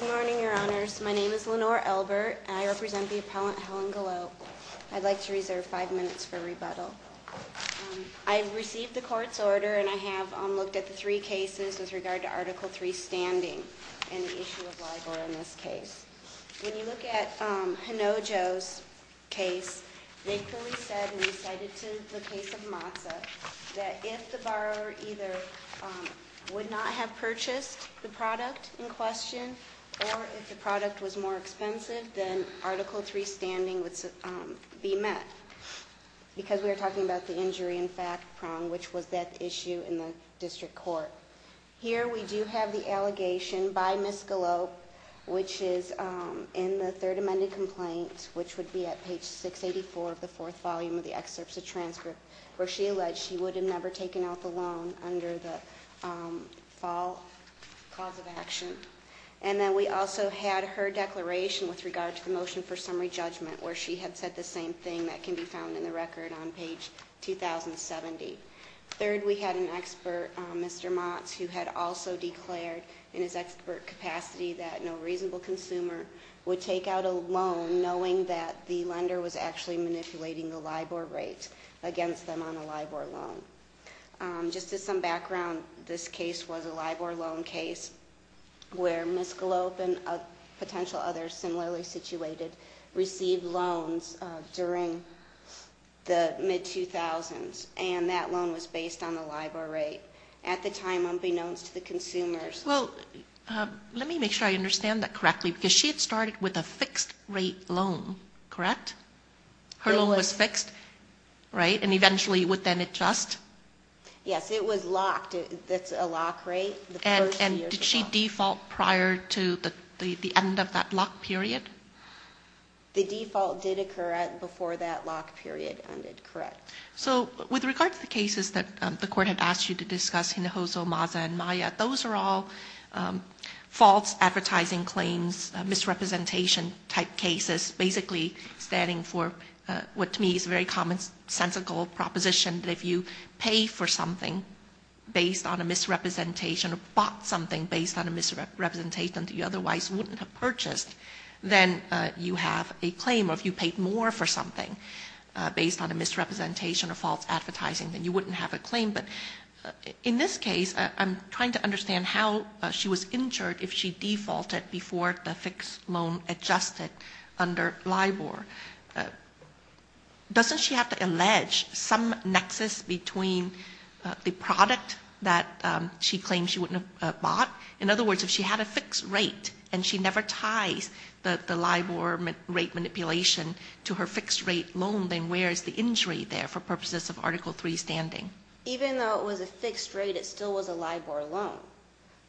Good morning, your honors. My name is Lenore Elbert and I represent the appellant Helen Galope. I'd like to reserve five minutes for rebuttal. I received the court's order and I have looked at the three cases with regard to Article 3 standing and the issue of LIBOR in this case. When you look at Hinojo's case, they clearly said and recited to the case of Mazza that if the borrower either would not have purchased the question or if the product was more expensive, then Article 3 standing would be met because we are talking about the injury in fact prong, which was that issue in the district court. Here we do have the allegation by Ms. Galope, which is in the third amended complaint, which would be at page 684 of the fourth volume of the excerpts of transcript, where she alleged she would have never taken out the loan under the fall cause of action. And then we also had her declaration with regard to the motion for summary judgment, where she had said the same thing that can be found in the record on page 2070. Third, we had an expert, Mr. Motz, who had also declared in his expert capacity that no reasonable consumer would take out a loan knowing that the lender was actually manipulating the LIBOR rate against them on a LIBOR loan. Just as some background, this case was a LIBOR loan case where Ms. Galope and potential others similarly situated received loans during the mid-2000s, and that loan was based on the LIBOR rate. At the time, unbeknownst to the consumers. Well, let me make sure I understand that correctly, because she had started with a fixed rate loan, correct? Her loan was fixed, right, and eventually would then adjust? Yes, it was locked. It's a lock rate. And did she default prior to the end of that lock period? The default did occur before that lock period ended, correct. So with regard to the cases that the court had asked you to discuss, Hinojosa, Mazza, and Maya, those are all false advertising claims, misrepresentation type cases, basically standing for what to me is a very commonsensical proposition that if you pay for something based on a misrepresentation or bought something based on a misrepresentation that you otherwise wouldn't have purchased, then you have a claim, or if you paid more for something based on a misrepresentation or false advertising, then you wouldn't have a claim. But in this case, I'm trying to understand how she was injured if she defaulted before the fixed loan adjusted under LIBOR. Doesn't she have to allege some nexus between the product that she claimed she wouldn't have bought? In other words, if she had a fixed rate and she never ties the LIBOR rate manipulation to her fixed rate loan, then where is the injury there for purposes of Article III standing? Even though it was a fixed rate, it still was a LIBOR loan.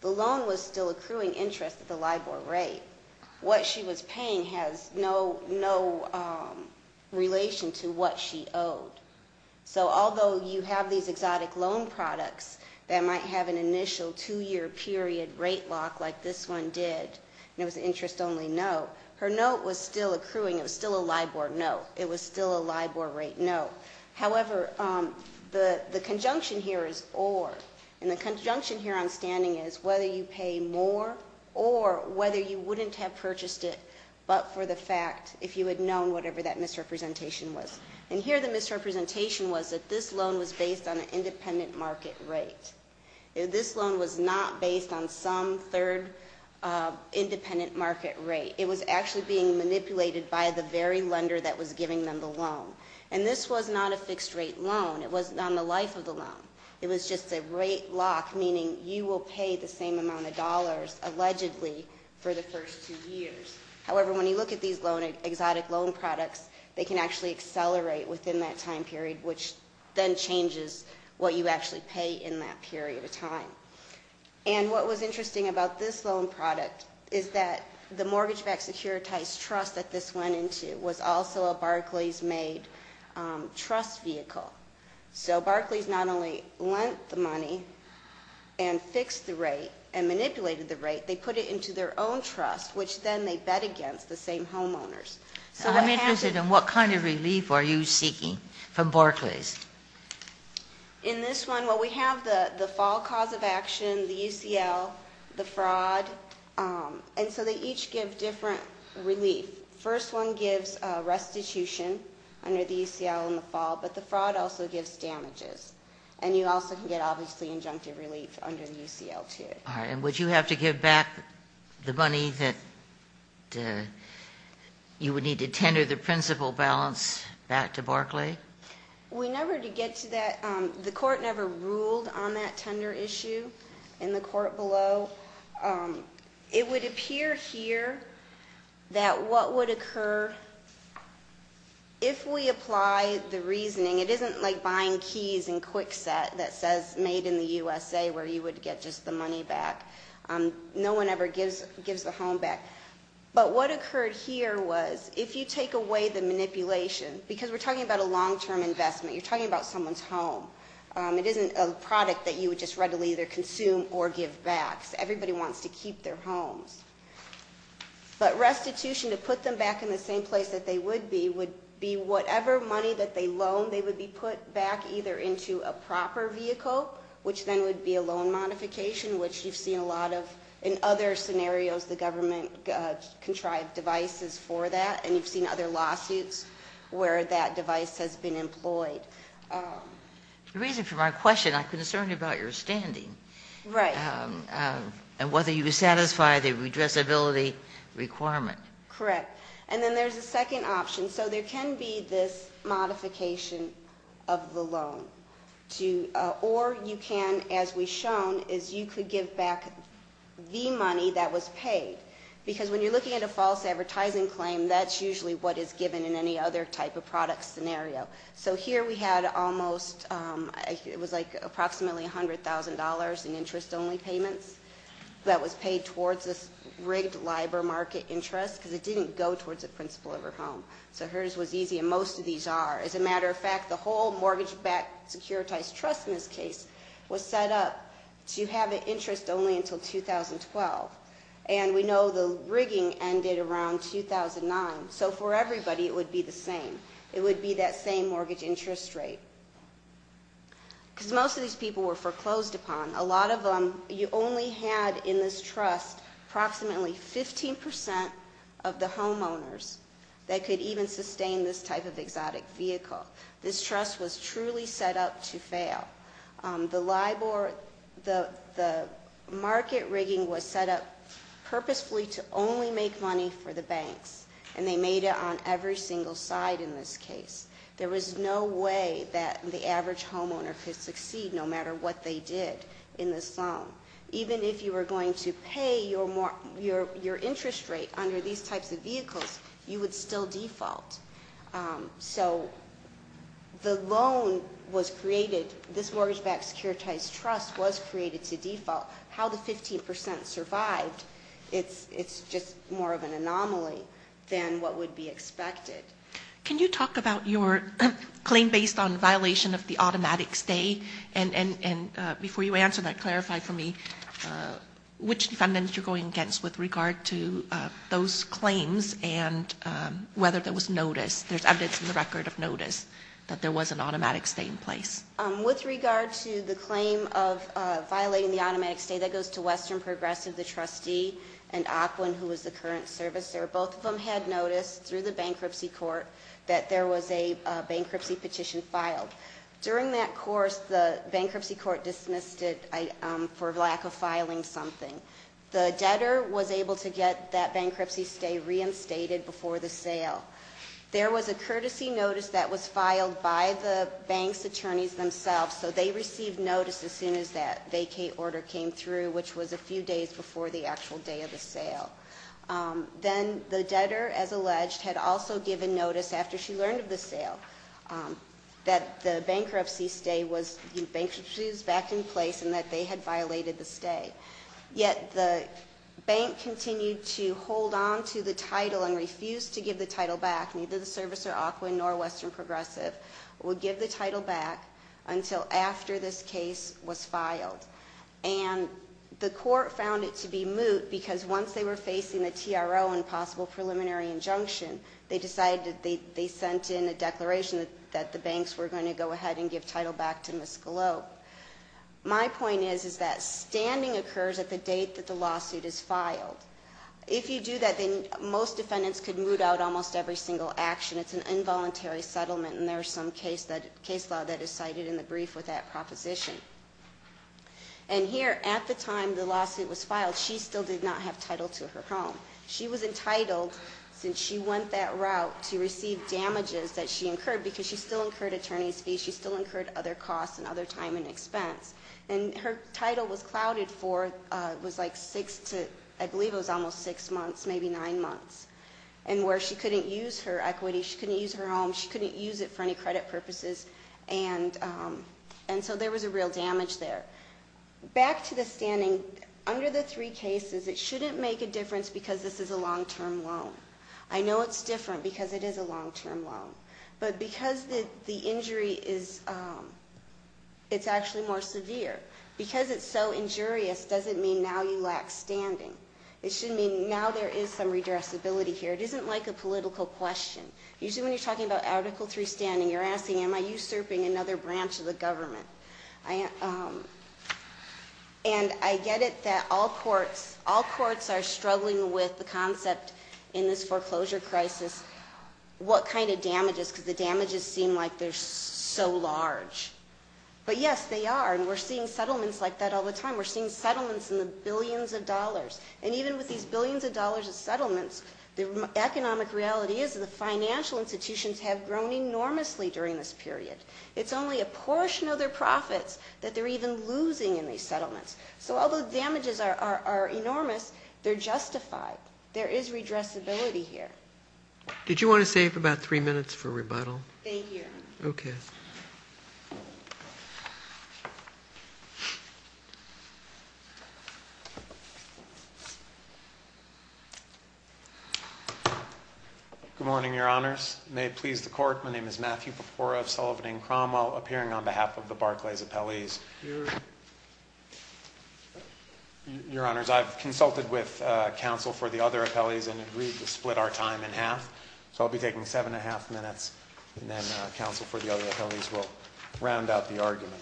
The loan was still accruing interest at the LIBOR rate. What she was paying has no relation to what she owed. So although you have these exotic loan products that might have an initial two-year period rate lock like this one did, and it was an interest-only note, her note was still accruing. It was still a LIBOR note. It was still a LIBOR rate note. However, the conjunction here is or. And the conjunction here on standing is whether you pay more or whether you wouldn't have purchased it but for the fact, if you had known whatever that misrepresentation was. And here the misrepresentation was that this loan was based on an independent market rate. This loan was not based on some third independent market rate. It was actually being manipulated by the very lender that was giving them the loan. And this was not a fixed rate loan. It was not on the life of the loan. It was just a rate lock, meaning you will pay the same amount of dollars, allegedly, for the first two years. However, when you look at these exotic loan products, they can actually accelerate within that time period, which then changes what you actually pay in that period of time. And what was interesting about this loan product is that the mortgage-backed securitized trust that this went into was also a Barclays-made trust vehicle. So Barclays not only lent the money and fixed the rate and manipulated the rate, they put it into their own trust, which then they bet against the same homeowners. I'm interested in what kind of relief are you seeking from Barclays? In this one, well, we have the fall cause of action, the UCL, the fraud. And so they each give different relief. First one gives restitution under the UCL in the fall, but the fraud also gives damages. And you also can get, obviously, injunctive relief under the UCL, too. All right. And would you have to give back the money that you would need to tender the principal balance back to Barclays? We never did get to that. The court never ruled on that tender issue in the court below. It would appear here that what would occur if we apply the reasoning, it isn't like buying keys in Kwikset that says made in the USA where you would get just the money back. No one ever gives the home back. But what occurred here was if you take away the manipulation, because we're talking about a long-term investment. You're talking about someone's home. It isn't a product that you would just readily either consume or give back. Everybody wants to keep their homes. But restitution, to put them back in the same place that they would be, would be whatever money that they loaned, they would be put back either into a proper vehicle, which then would be a loan modification, which you've seen a lot of. In other scenarios, the government contrived devices for that, and you've seen other lawsuits where that device has been employed. The reason for my question, I'm concerned about your standing. Right. And whether you would satisfy the redressability requirement. Correct. And then there's a second option. And so there can be this modification of the loan. Or you can, as we've shown, is you could give back the money that was paid. Because when you're looking at a false advertising claim, that's usually what is given in any other type of product scenario. So here we had almost, it was like approximately $100,000 in interest-only payments that was paid towards this rigged LIBOR market interest. Because it didn't go towards the principal of her home. So hers was easy, and most of these are. As a matter of fact, the whole mortgage-backed securitized trust in this case was set up to have an interest only until 2012. And we know the rigging ended around 2009. So for everybody, it would be the same. It would be that same mortgage interest rate. Because most of these people were foreclosed upon. A lot of them, you only had in this trust approximately 15% of the homeowners that could even sustain this type of exotic vehicle. This trust was truly set up to fail. The LIBOR, the market rigging was set up purposefully to only make money for the banks. And they made it on every single side in this case. There was no way that the average homeowner could succeed no matter what they did in this loan. Even if you were going to pay your interest rate under these types of vehicles, you would still default. So the loan was created, this mortgage-backed securitized trust was created to default. How the 15% survived, it's just more of an anomaly than what would be expected. Can you talk about your claim based on violation of the automatic stay? And before you answer that, clarify for me which defendants you're going against with regard to those claims and whether there was notice. There's evidence in the record of notice that there was an automatic stay in place. With regard to the claim of violating the automatic stay, that goes to Western Progressive. The trustee and Aquin, who is the current servicer, both of them had notice through the bankruptcy court that there was a bankruptcy petition filed. During that course, the bankruptcy court dismissed it for lack of filing something. The debtor was able to get that bankruptcy stay reinstated before the sale. There was a courtesy notice that was filed by the bank's attorneys themselves, so they received notice as soon as that vacate order came through, which was a few days before the actual day of the sale. Then the debtor, as alleged, had also given notice after she learned of the sale that the bankruptcy stay was, the bankruptcy was back in place and that they had violated the stay. Yet the bank continued to hold on to the title and refused to give the title back. Neither the servicer, Aquin, nor Western Progressive would give the title back until after this case was filed. And the court found it to be moot because once they were facing the TRO and possible preliminary injunction, they decided that they sent in a declaration that the banks were going to go ahead and give title back to Ms. Galop. My point is that standing occurs at the date that the lawsuit is filed. If you do that, then most defendants could moot out almost every single action. It's an involuntary settlement, and there's some case law that is cited in the brief with that proposition. And here, at the time the lawsuit was filed, she still did not have title to her home. She was entitled, since she went that route, to receive damages that she incurred because she still incurred attorney's fees, she still incurred other costs and other time and expense. And her title was clouded for, it was like six to, I believe it was almost six months, maybe nine months. And where she couldn't use her equity, she couldn't use her home, she couldn't use it for any credit purposes. And so there was a real damage there. Back to the standing, under the three cases, it shouldn't make a difference because this is a long-term loan. I know it's different because it is a long-term loan. But because the injury is, it's actually more severe. Because it's so injurious doesn't mean now you lack standing. It should mean now there is some redressability here. It isn't like a political question. Usually when you're talking about Article III standing, you're asking, am I usurping another branch of the government? And I get it that all courts are struggling with the concept in this foreclosure crisis, what kind of damages, because the damages seem like they're so large. But yes, they are. And we're seeing settlements like that all the time. We're seeing settlements in the billions of dollars. And even with these billions of dollars of settlements, the economic reality is the financial institutions have grown enormously during this period. It's only a portion of their profits that they're even losing in these settlements. So although damages are enormous, they're justified. There is redressability here. Did you want to save about three minutes for rebuttal? Thank you. Okay. Good morning, Your Honors. May it please the Court. My name is Matthew Papora of Sullivan and Cromwell, appearing on behalf of the Barclays appellees. Your Honors, I've consulted with counsel for the other appellees and agreed to split our time in half. So I'll be taking seven and a half minutes, and then counsel for the other appellees will round out the argument.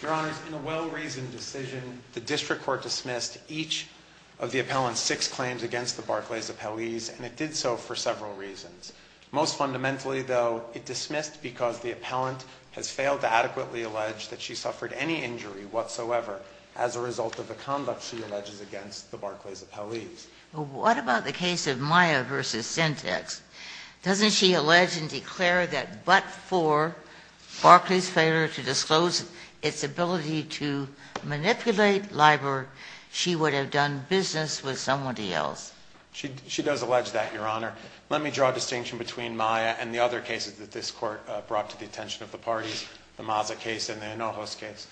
Your Honors, in a well-reasoned decision, the district court dismissed each of the appellant's six claims against the Barclays appellees, and it did so for several reasons. Most fundamentally, though, it dismissed because the appellant has failed to adequately allege that she suffered any injury whatsoever as a result of the conduct she alleges against the Barclays appellees. Well, what about the case of Maya v. Sintex? Doesn't she allege and declare that but for Barclays' failure to disclose its ability to manipulate LIBOR, she would have done business with somebody else? She does allege that, Your Honor. Let me draw a distinction between Maya and the other cases that this Court brought to the attention of the parties, the Maza case and the Anojos case.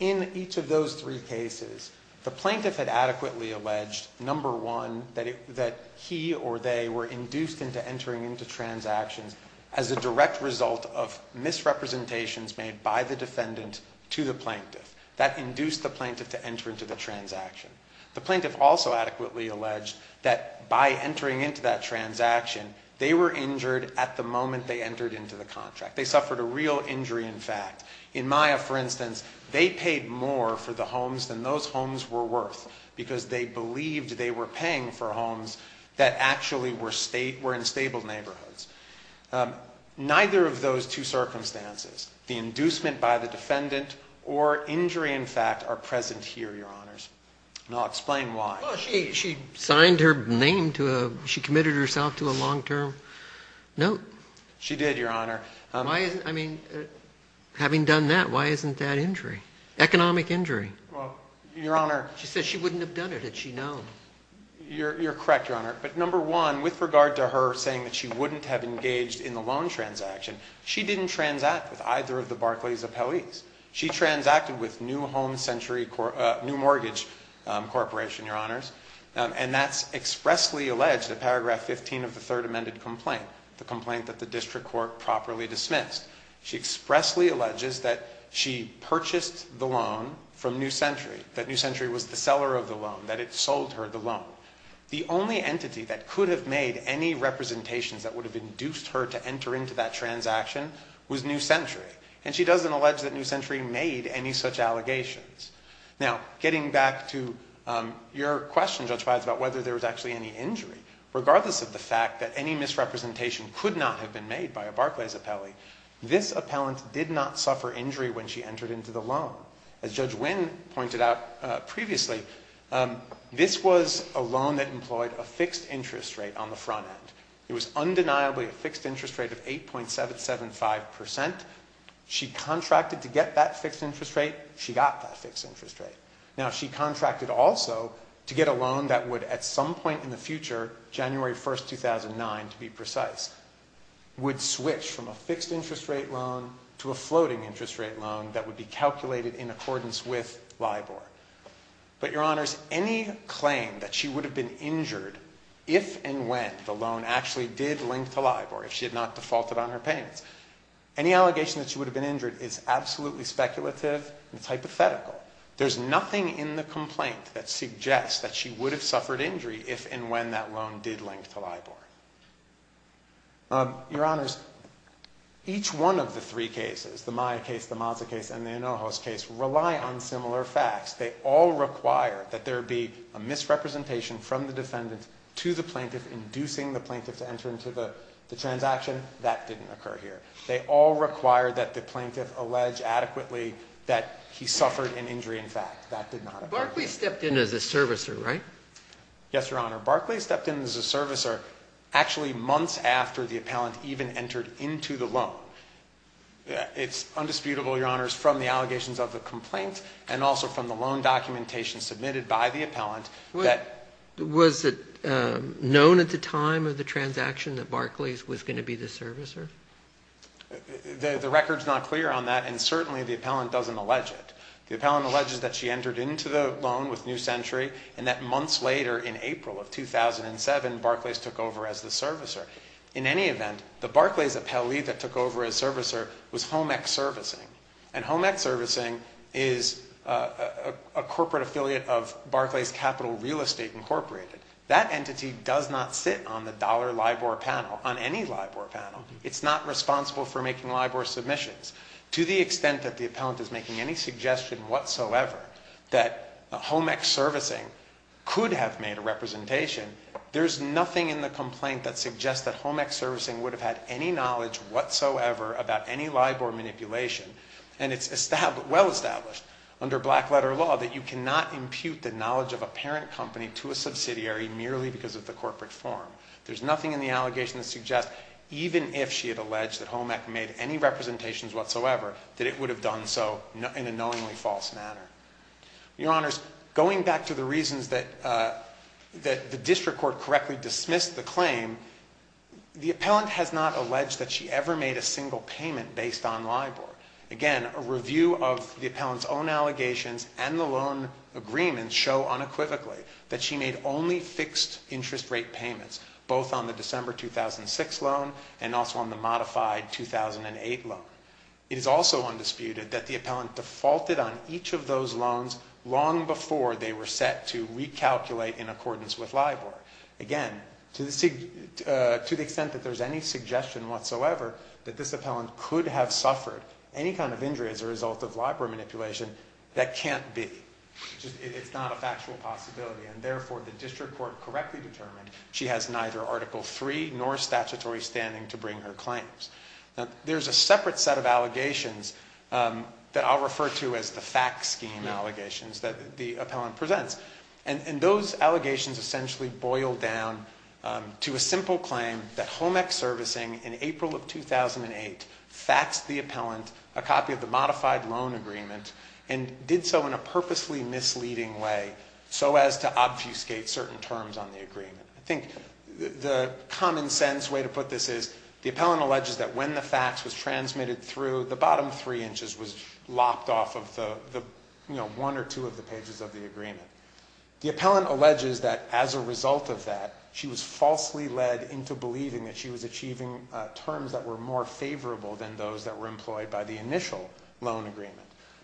In each of those three cases, the plaintiff had adequately alleged, number one, that he or they were induced into entering into transactions as a direct result of misrepresentations made by the defendant to the plaintiff. That induced the plaintiff to enter into the transaction. The plaintiff also adequately alleged that by entering into that transaction, they were injured at the moment they entered into the contract. They suffered a real injury, in fact. In Maya, for instance, they paid more for the homes than those homes were worth because they believed they were paying for homes that actually were in stable neighborhoods. Neither of those two circumstances, the inducement by the defendant or injury, in fact, are present here, Your Honors. And I'll explain why. Well, she signed her name to a, she committed herself to a long-term note. She did, Your Honor. I mean, having done that, why isn't that injury, economic injury? Well, Your Honor. She said she wouldn't have done it had she known. You're correct, Your Honor. But number one, with regard to her saying that she wouldn't have engaged in the loan transaction, she didn't transact with either of the Barclays appellees. She transacted with New Home Century, New Mortgage Corporation, Your Honors. And that's expressly alleged in paragraph 15 of the third amended complaint, the complaint that the district court properly dismissed. She expressly alleges that she purchased the loan from New Century, that New Century was the seller of the loan, that it sold her the loan. The only entity that could have made any representations that would have induced her to enter into that transaction was New Century. And she doesn't allege that New Century made any such allegations. Now, getting back to your question, Judge Pides, about whether there was actually any injury, regardless of the fact that any misrepresentation could not have been made by a Barclays appellee, this appellant did not suffer injury when she entered into the loan. As Judge Wynn pointed out previously, this was a loan that employed a fixed interest rate on the front end. It was undeniably a fixed interest rate of 8.775%. She contracted to get that fixed interest rate. She got that fixed interest rate. Now, she contracted also to get a loan that would, at some point in the future, January 1, 2009, to be precise, would switch from a fixed interest rate loan to a floating interest rate loan that would be calculated in accordance with LIBOR. But, Your Honors, any claim that she would have been injured if and when the loan actually did link to LIBOR, if she had not defaulted on her payments, any allegation that she would have been injured is absolutely speculative and hypothetical. There's nothing in the complaint that suggests that she would have suffered injury if and when that loan did link to LIBOR. Your Honors, each one of the three cases, the Maya case, the Mazza case, and the Anojos case, rely on similar facts. They all require that there be a misrepresentation from the defendant to the plaintiff, inducing the plaintiff to enter into the transaction. That didn't occur here. They all require that the plaintiff allege adequately that he suffered an injury in fact. That did not occur here. Barkley stepped in as a servicer, right? Yes, Your Honor. Barkley stepped in as a servicer actually months after the appellant even entered into the loan. It's undisputable, Your Honors, from the allegations of the complaint and also from the loan documentation submitted by the appellant that Was it known at the time of the transaction that Barkley was going to be the servicer? The record's not clear on that, and certainly the appellant doesn't allege it. The appellant alleges that she entered into the loan with New Century and that months later, in April of 2007, Barkley took over as the servicer. In any event, the Barkley's appellee that took over as servicer was Home Ex Servicing, and Home Ex Servicing is a corporate affiliate of Barkley's Capital Real Estate Incorporated. That entity does not sit on the dollar LIBOR panel, on any LIBOR panel. It's not responsible for making LIBOR submissions. To the extent that the appellant is making any suggestion whatsoever that Home Ex Servicing could have made a representation, there's nothing in the complaint that suggests that Home Ex Servicing would have had any knowledge whatsoever about any LIBOR manipulation, and it's well-established under black-letter law that you cannot impute the knowledge of a parent company to a subsidiary merely because of the corporate form. There's nothing in the allegation that suggests, even if she had alleged that Home Ex made any representations whatsoever, that it would have done so in a knowingly false manner. Your Honors, going back to the reasons that the district court correctly dismissed the claim, the appellant has not alleged that she ever made a single payment based on LIBOR. Again, a review of the appellant's own allegations and the loan agreements show unequivocally that she made only fixed interest rate payments, both on the December 2006 loan and also on the modified 2008 loan. It is also undisputed that the appellant defaulted on each of those loans long before they were set to recalculate in accordance with LIBOR. Again, to the extent that there's any suggestion whatsoever that this appellant could have suffered any kind of injury as a result of LIBOR manipulation, that can't be. It's not a factual possibility. And therefore, the district court correctly determined she has neither Article III nor statutory standing to bring her claims. There's a separate set of allegations that I'll refer to as the fact scheme allegations that the appellant presents. And those allegations essentially boil down to a simple claim that Home Ex Servicing, in April of 2008, faxed the appellant a copy of the modified loan agreement and did so in a purposely misleading way so as to obfuscate certain terms on the agreement. I think the common sense way to put this is the appellant alleges that when the fax was transmitted through, the bottom three inches was lopped off of the one or two of the pages of the agreement. The appellant alleges that as a result of that, she was falsely led into believing that she was achieving terms that were more favorable than those that were employed by the initial loan agreement.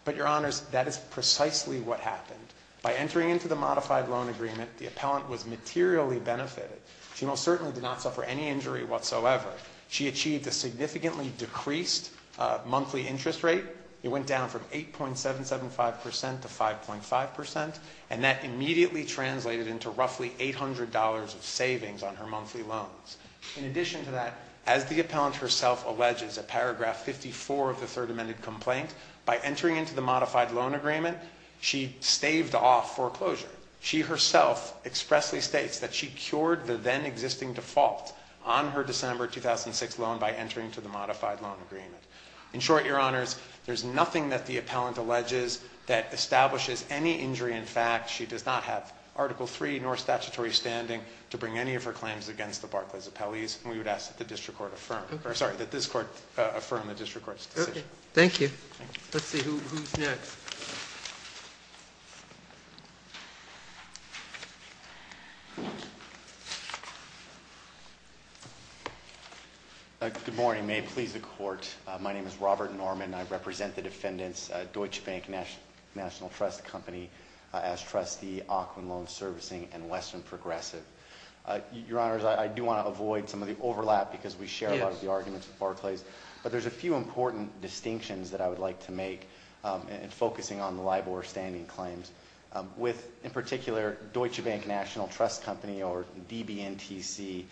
But, Your Honors, that is precisely what happened. By entering into the modified loan agreement, the appellant was materially benefited. She most certainly did not suffer any injury whatsoever. She achieved a significantly decreased monthly interest rate. It went down from 8.775% to 5.5%, and that immediately translated into roughly $800 of savings on her monthly loans. In addition to that, as the appellant herself alleges in paragraph 54 of the Third Amendment complaint, by entering into the modified loan agreement, she staved off foreclosure. She herself expressly states that she cured the then existing default on her December 2006 loan by entering into the modified loan agreement. In short, Your Honors, there's nothing that the appellant alleges that establishes any injury in fact. She does not have Article III nor statutory standing to bring any of her claims against the Barclays appellees, and we would ask that the district court affirm. Sorry, that this court affirm the district court's decision. Thank you. Let's see who's next. Good morning. May it please the court. My name is Robert Norman. I represent the defendants, Deutsche Bank National Trust Company as trustee, Auckland Loan Servicing, and Western Progressive. Your Honors, I do want to avoid some of the overlap because we share a lot of the arguments with Barclays. But there's a few important distinctions that I would like to make in focusing on the LIBOR standing claims. With, in particular, Deutsche Bank National Trust Company, or DBNTC,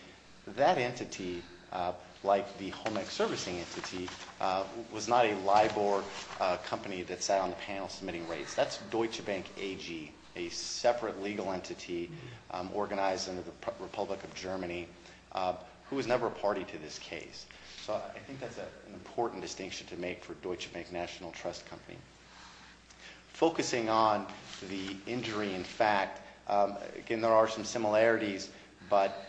that entity, like the Holmec Servicing entity, was not a LIBOR company that sat on the panel submitting rates. That's Deutsche Bank AG, a separate legal entity organized under the Republic of Germany, who was never a party to this case. So I think that's an important distinction to make for Deutsche Bank National Trust Company. Focusing on the injury in fact, again, there are some similarities, but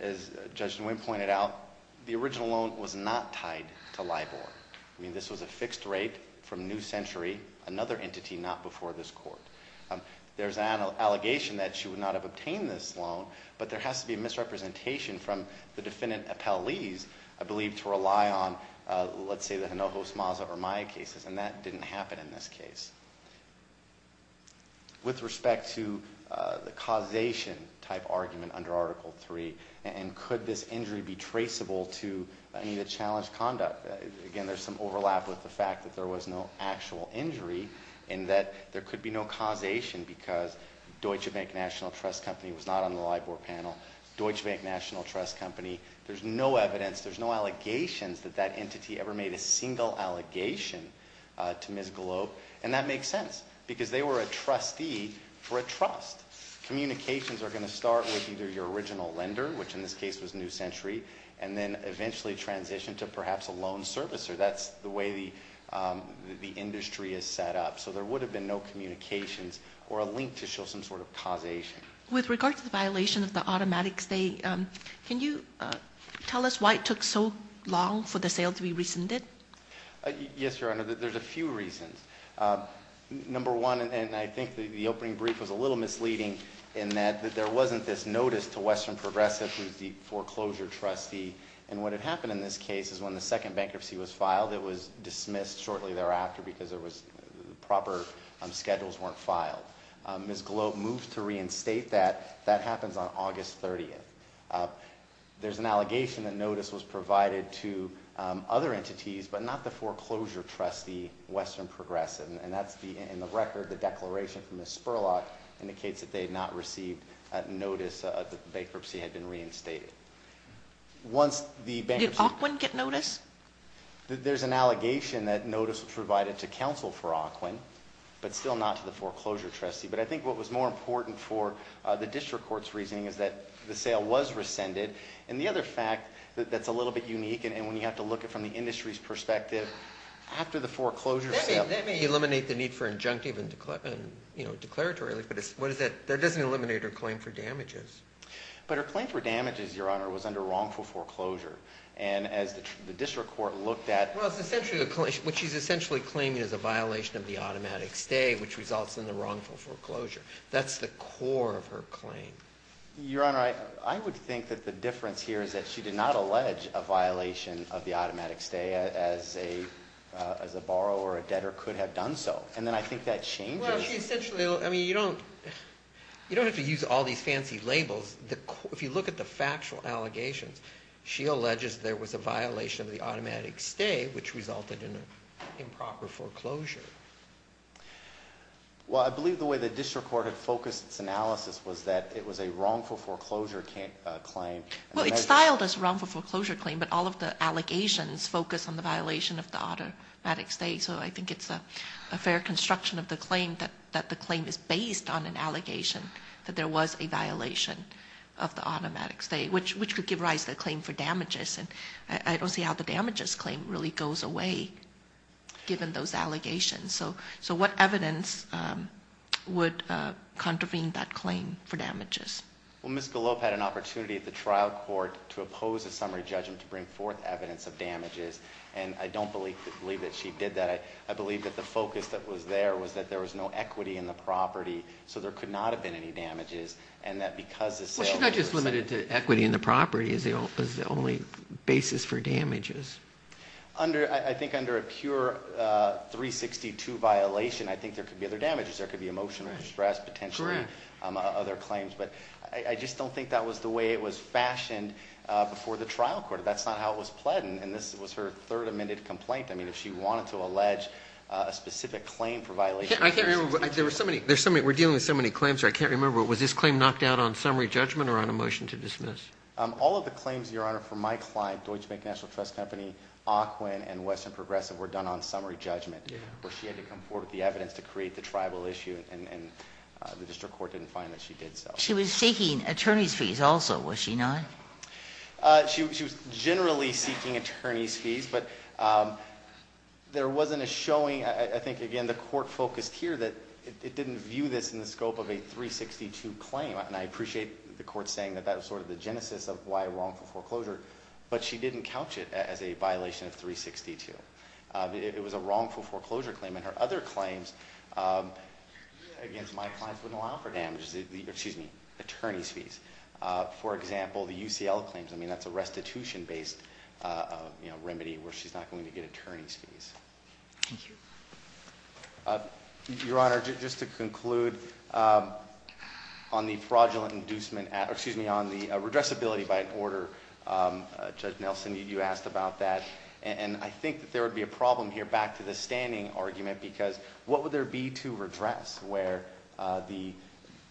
as Judge Nguyen pointed out, the original loan was not tied to LIBOR. I mean, this was a fixed rate from New Century, another entity not before this court. There's an allegation that she would not have obtained this loan, but there has to be a misrepresentation from the defendant appellees, I believe, to rely on, let's say, the Hinojo, Smaza, or Maya cases, and that didn't happen in this case. With respect to the causation type argument under Article 3, and could this injury be traceable to any of the challenged conduct? Again, there's some overlap with the fact that there was no actual injury, and that there could be no causation because Deutsche Bank National Trust Company was not on the LIBOR panel. Deutsche Bank National Trust Company, there's no evidence, there's no allegations that that entity ever made a single allegation to Ms. Globe. And that makes sense, because they were a trustee for a trust. Communications are going to start with either your original lender, which in this case was New Century, and then eventually transition to perhaps a loan servicer, that's the way the industry is set up. So there would have been no communications or a link to show some sort of causation. With regard to the violation of the automatic stay, can you tell us why it took so long for the sale to be rescinded? Yes, Your Honor, there's a few reasons. Number one, and I think the opening brief was a little misleading in that there wasn't this notice to Western Progressive, who's the foreclosure trustee. And what had happened in this case is when the second bankruptcy was filed, it was dismissed shortly thereafter because the proper schedules weren't filed. Ms. Globe moved to reinstate that. That happens on August 30th. There's an allegation that notice was provided to other entities, but not the foreclosure trustee, Western Progressive. And that's the, in the record, the declaration from Ms. Spurlock indicates that they had not received notice that the bankruptcy had been reinstated. Did Auquin get notice? There's an allegation that notice was provided to counsel for Auquin, but still not to the foreclosure trustee. But I think what was more important for the district court's reasoning is that the sale was rescinded. And the other fact that's a little bit unique, and when you have to look at it from the industry's perspective, after the foreclosure sale- That may eliminate the need for injunctive and declaratory relief, but that doesn't eliminate her claim for damages. But her claim for damages, Your Honor, was under wrongful foreclosure. And as the district court looked at- Well, it's essentially, what she's essentially claiming is a violation of the automatic stay, which results in the wrongful foreclosure. That's the core of her claim. Your Honor, I would think that the difference here is that she did not allege a violation of the automatic stay as a borrower or a debtor could have done so. And then I think that changes- Well, she essentially, I mean, you don't have to use all these fancy labels. If you look at the factual allegations, she alleges there was a violation of the automatic stay, which resulted in improper foreclosure. Well, I believe the way the district court had focused its analysis was that it was a wrongful foreclosure claim. Well, it's styled as a wrongful foreclosure claim, but all of the allegations focus on the violation of the automatic stay. So I think it's a fair construction of the claim that the claim is based on an allegation that there was a violation of the automatic stay, which could give rise to a claim for damages. And I don't see how the damages claim really goes away, given those allegations. So what evidence would contravene that claim for damages? Well, Ms. Galop had an opportunity at the trial court to oppose a summary judgment to bring forth evidence of damages. And I don't believe that she did that. I believe that the focus that was there was that there was no equity in the property, so there could not have been any damages. And that because the sale- Well, she's not just limited to equity in the property as the only basis for damages. I think under a pure 362 violation, I think there could be other damages. There could be emotional distress, potentially- Correct. Other claims. But I just don't think that was the way it was fashioned before the trial court. That's not how it was pledged. And this was her third amended complaint. I mean, if she wanted to allege a specific claim for violations- I can't remember. There were so many. We're dealing with so many claims here. I can't remember. Was this claim knocked out on summary judgment or on a motion to dismiss? All of the claims, Your Honor, for my client, Deutsche Bank National Trust Company, AQUIN, and Western Progressive were done on summary judgment. Yeah. Where she had to come forward with the evidence to create the tribal issue, and the district court didn't find that she did so. She was seeking attorney's fees also, was she not? She was generally seeking attorney's fees, but there wasn't a showing. I think, again, the court focused here that it didn't view this in the scope of a 362 claim, and I appreciate the court saying that that was sort of the genesis of why wrongful foreclosure, but she didn't couch it as a violation of 362. It was a wrongful foreclosure claim, and her other claims against my clients wouldn't allow for damages. Excuse me. Attorney's fees. For example, the UCL claims. I mean, that's a restitution-based remedy where she's not going to get attorney's fees. Thank you. Your Honor, just to conclude, on the fraudulent inducement, excuse me, on the redressability by an order, Judge Nelson, you asked about that, and I think that there would be a problem here, back to the standing argument, because what would there be to redress where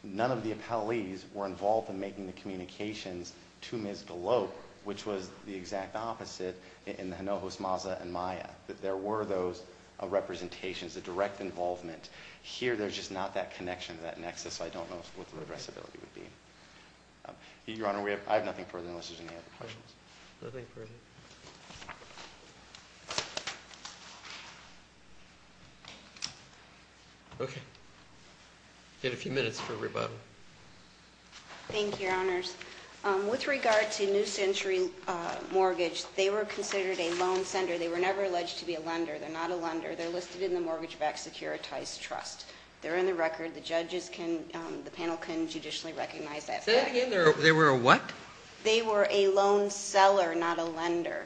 none of the appellees were involved in making the communications to Ms. Galop, which was the exact opposite in the Hinojosa, Maza, and Maya, that there were those representations, the direct involvement. Here, there's just not that connection, that nexus, so I don't know what the redressability would be. Your Honor, I have nothing further unless there's any other questions. Nothing further. Thank you. Okay. You have a few minutes for rebuttal. Thank you, Your Honors. With regard to New Century Mortgage, they were considered a loan sender. They were never alleged to be a lender. They're not a lender. They're listed in the Mortgage Back Securitized Trust. They're in the record. The panel can judicially recognize that fact. Say that again. They were a what? They were a loan seller, not a lender.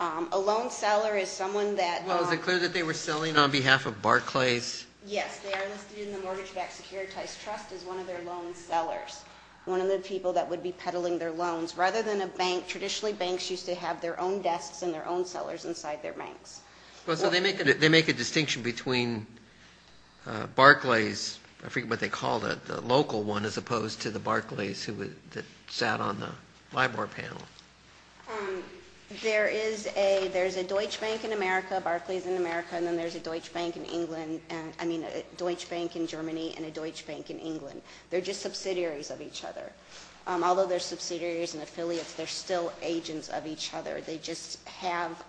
A loan seller is someone that- Well, is it clear that they were selling on behalf of Barclays? Yes, they are listed in the Mortgage Back Securitized Trust as one of their loan sellers, one of the people that would be peddling their loans, rather than a bank. Traditionally, banks used to have their own desks and their own sellers inside their banks. Well, so they make a distinction between Barclays, I forget what they called it, the local one as opposed to the Barclays that sat on the LIBOR panel. There's a Deutsche Bank in America, Barclays in America, and then there's a Deutsche Bank in Germany and a Deutsche Bank in England. They're just subsidiaries of each other. Although they're subsidiaries and affiliates, they're still agents of each other. They just have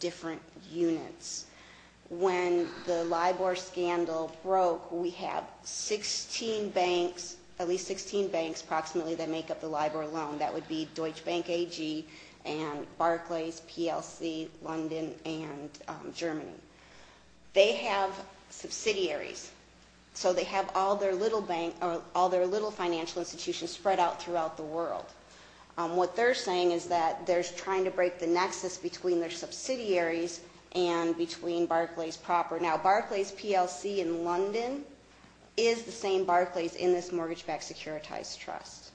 different units. When the LIBOR scandal broke, we had 16 banks, at least 16 banks, approximately, that make up the LIBOR loan. That would be Deutsche Bank AG and Barclays, PLC, London, and Germany. They have subsidiaries, so they have all their little financial institutions spread out throughout the world. What they're saying is that they're trying to break the nexus between their subsidiaries and between Barclays proper. Now, Barclays, PLC, and London is the same Barclays in this mortgage-backed securitized trust.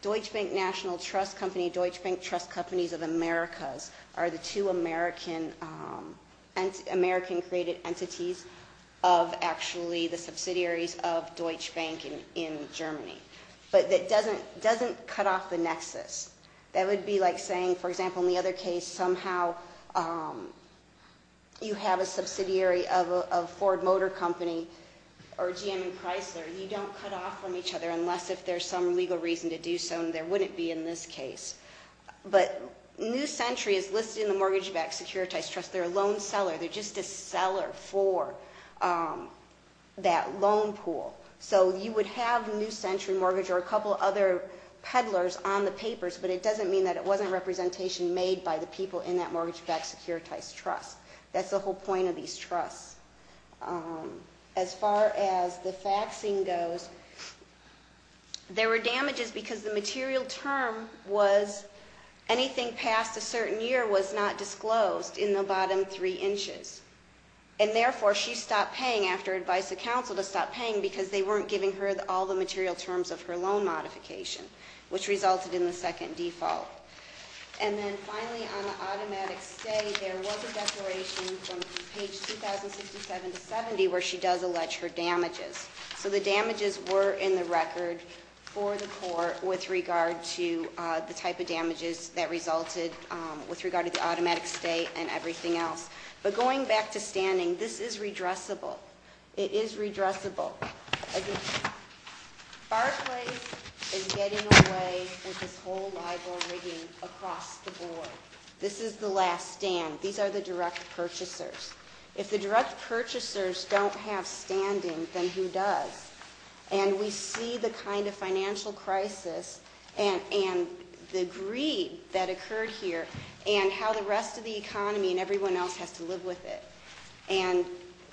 Deutsche Bank National Trust Company, Deutsche Bank Trust Companies of Americas, are the two American-created entities of actually the subsidiaries of Deutsche Bank in Germany. But that doesn't cut off the nexus. That would be like saying, for example, in the other case, somehow you have a subsidiary of a Ford Motor Company or GM and Chrysler. You don't cut off from each other unless if there's some legal reason to do so, and there wouldn't be in this case. But New Century is listed in the mortgage-backed securitized trust. They're a loan seller. They're just a seller for that loan pool. So you would have New Century Mortgage or a couple other peddlers on the papers, but it doesn't mean that it wasn't representation made by the people in that mortgage-backed securitized trust. That's the whole point of these trusts. As far as the faxing goes, there were damages because the material term was anything past a certain year was not disclosed in the bottom three inches. And therefore, she stopped paying after advice of counsel to stop paying, because they weren't giving her all the material terms of her loan modification, which resulted in the second default. And then finally, on the automatic stay, there was a declaration from page 2067 to 70 where she does allege her damages. So the damages were in the record for the court with regard to the type of damages that resulted with regard to the automatic stay and everything else. But going back to standing, this is redressable. It is redressable. Barclays is getting away with this whole libel rigging across the board. This is the last stand. These are the direct purchasers. If the direct purchasers don't have standing, then who does? And we see the kind of financial crisis and the greed that occurred here, and how the rest of the economy and everyone else has to live with it. And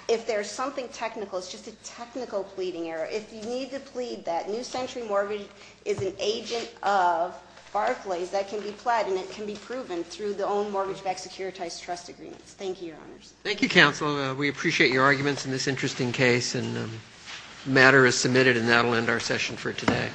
if there's something technical, it's just a technical pleading error. If you need to plead that New Century Mortgage is an agent of Barclays, that can be pled, and it can be proven through the own mortgage-backed securitized trust agreements. Thank you, Your Honors. Thank you, Counsel. We appreciate your arguments in this interesting case. And the matter is submitted, and that will end our session for today.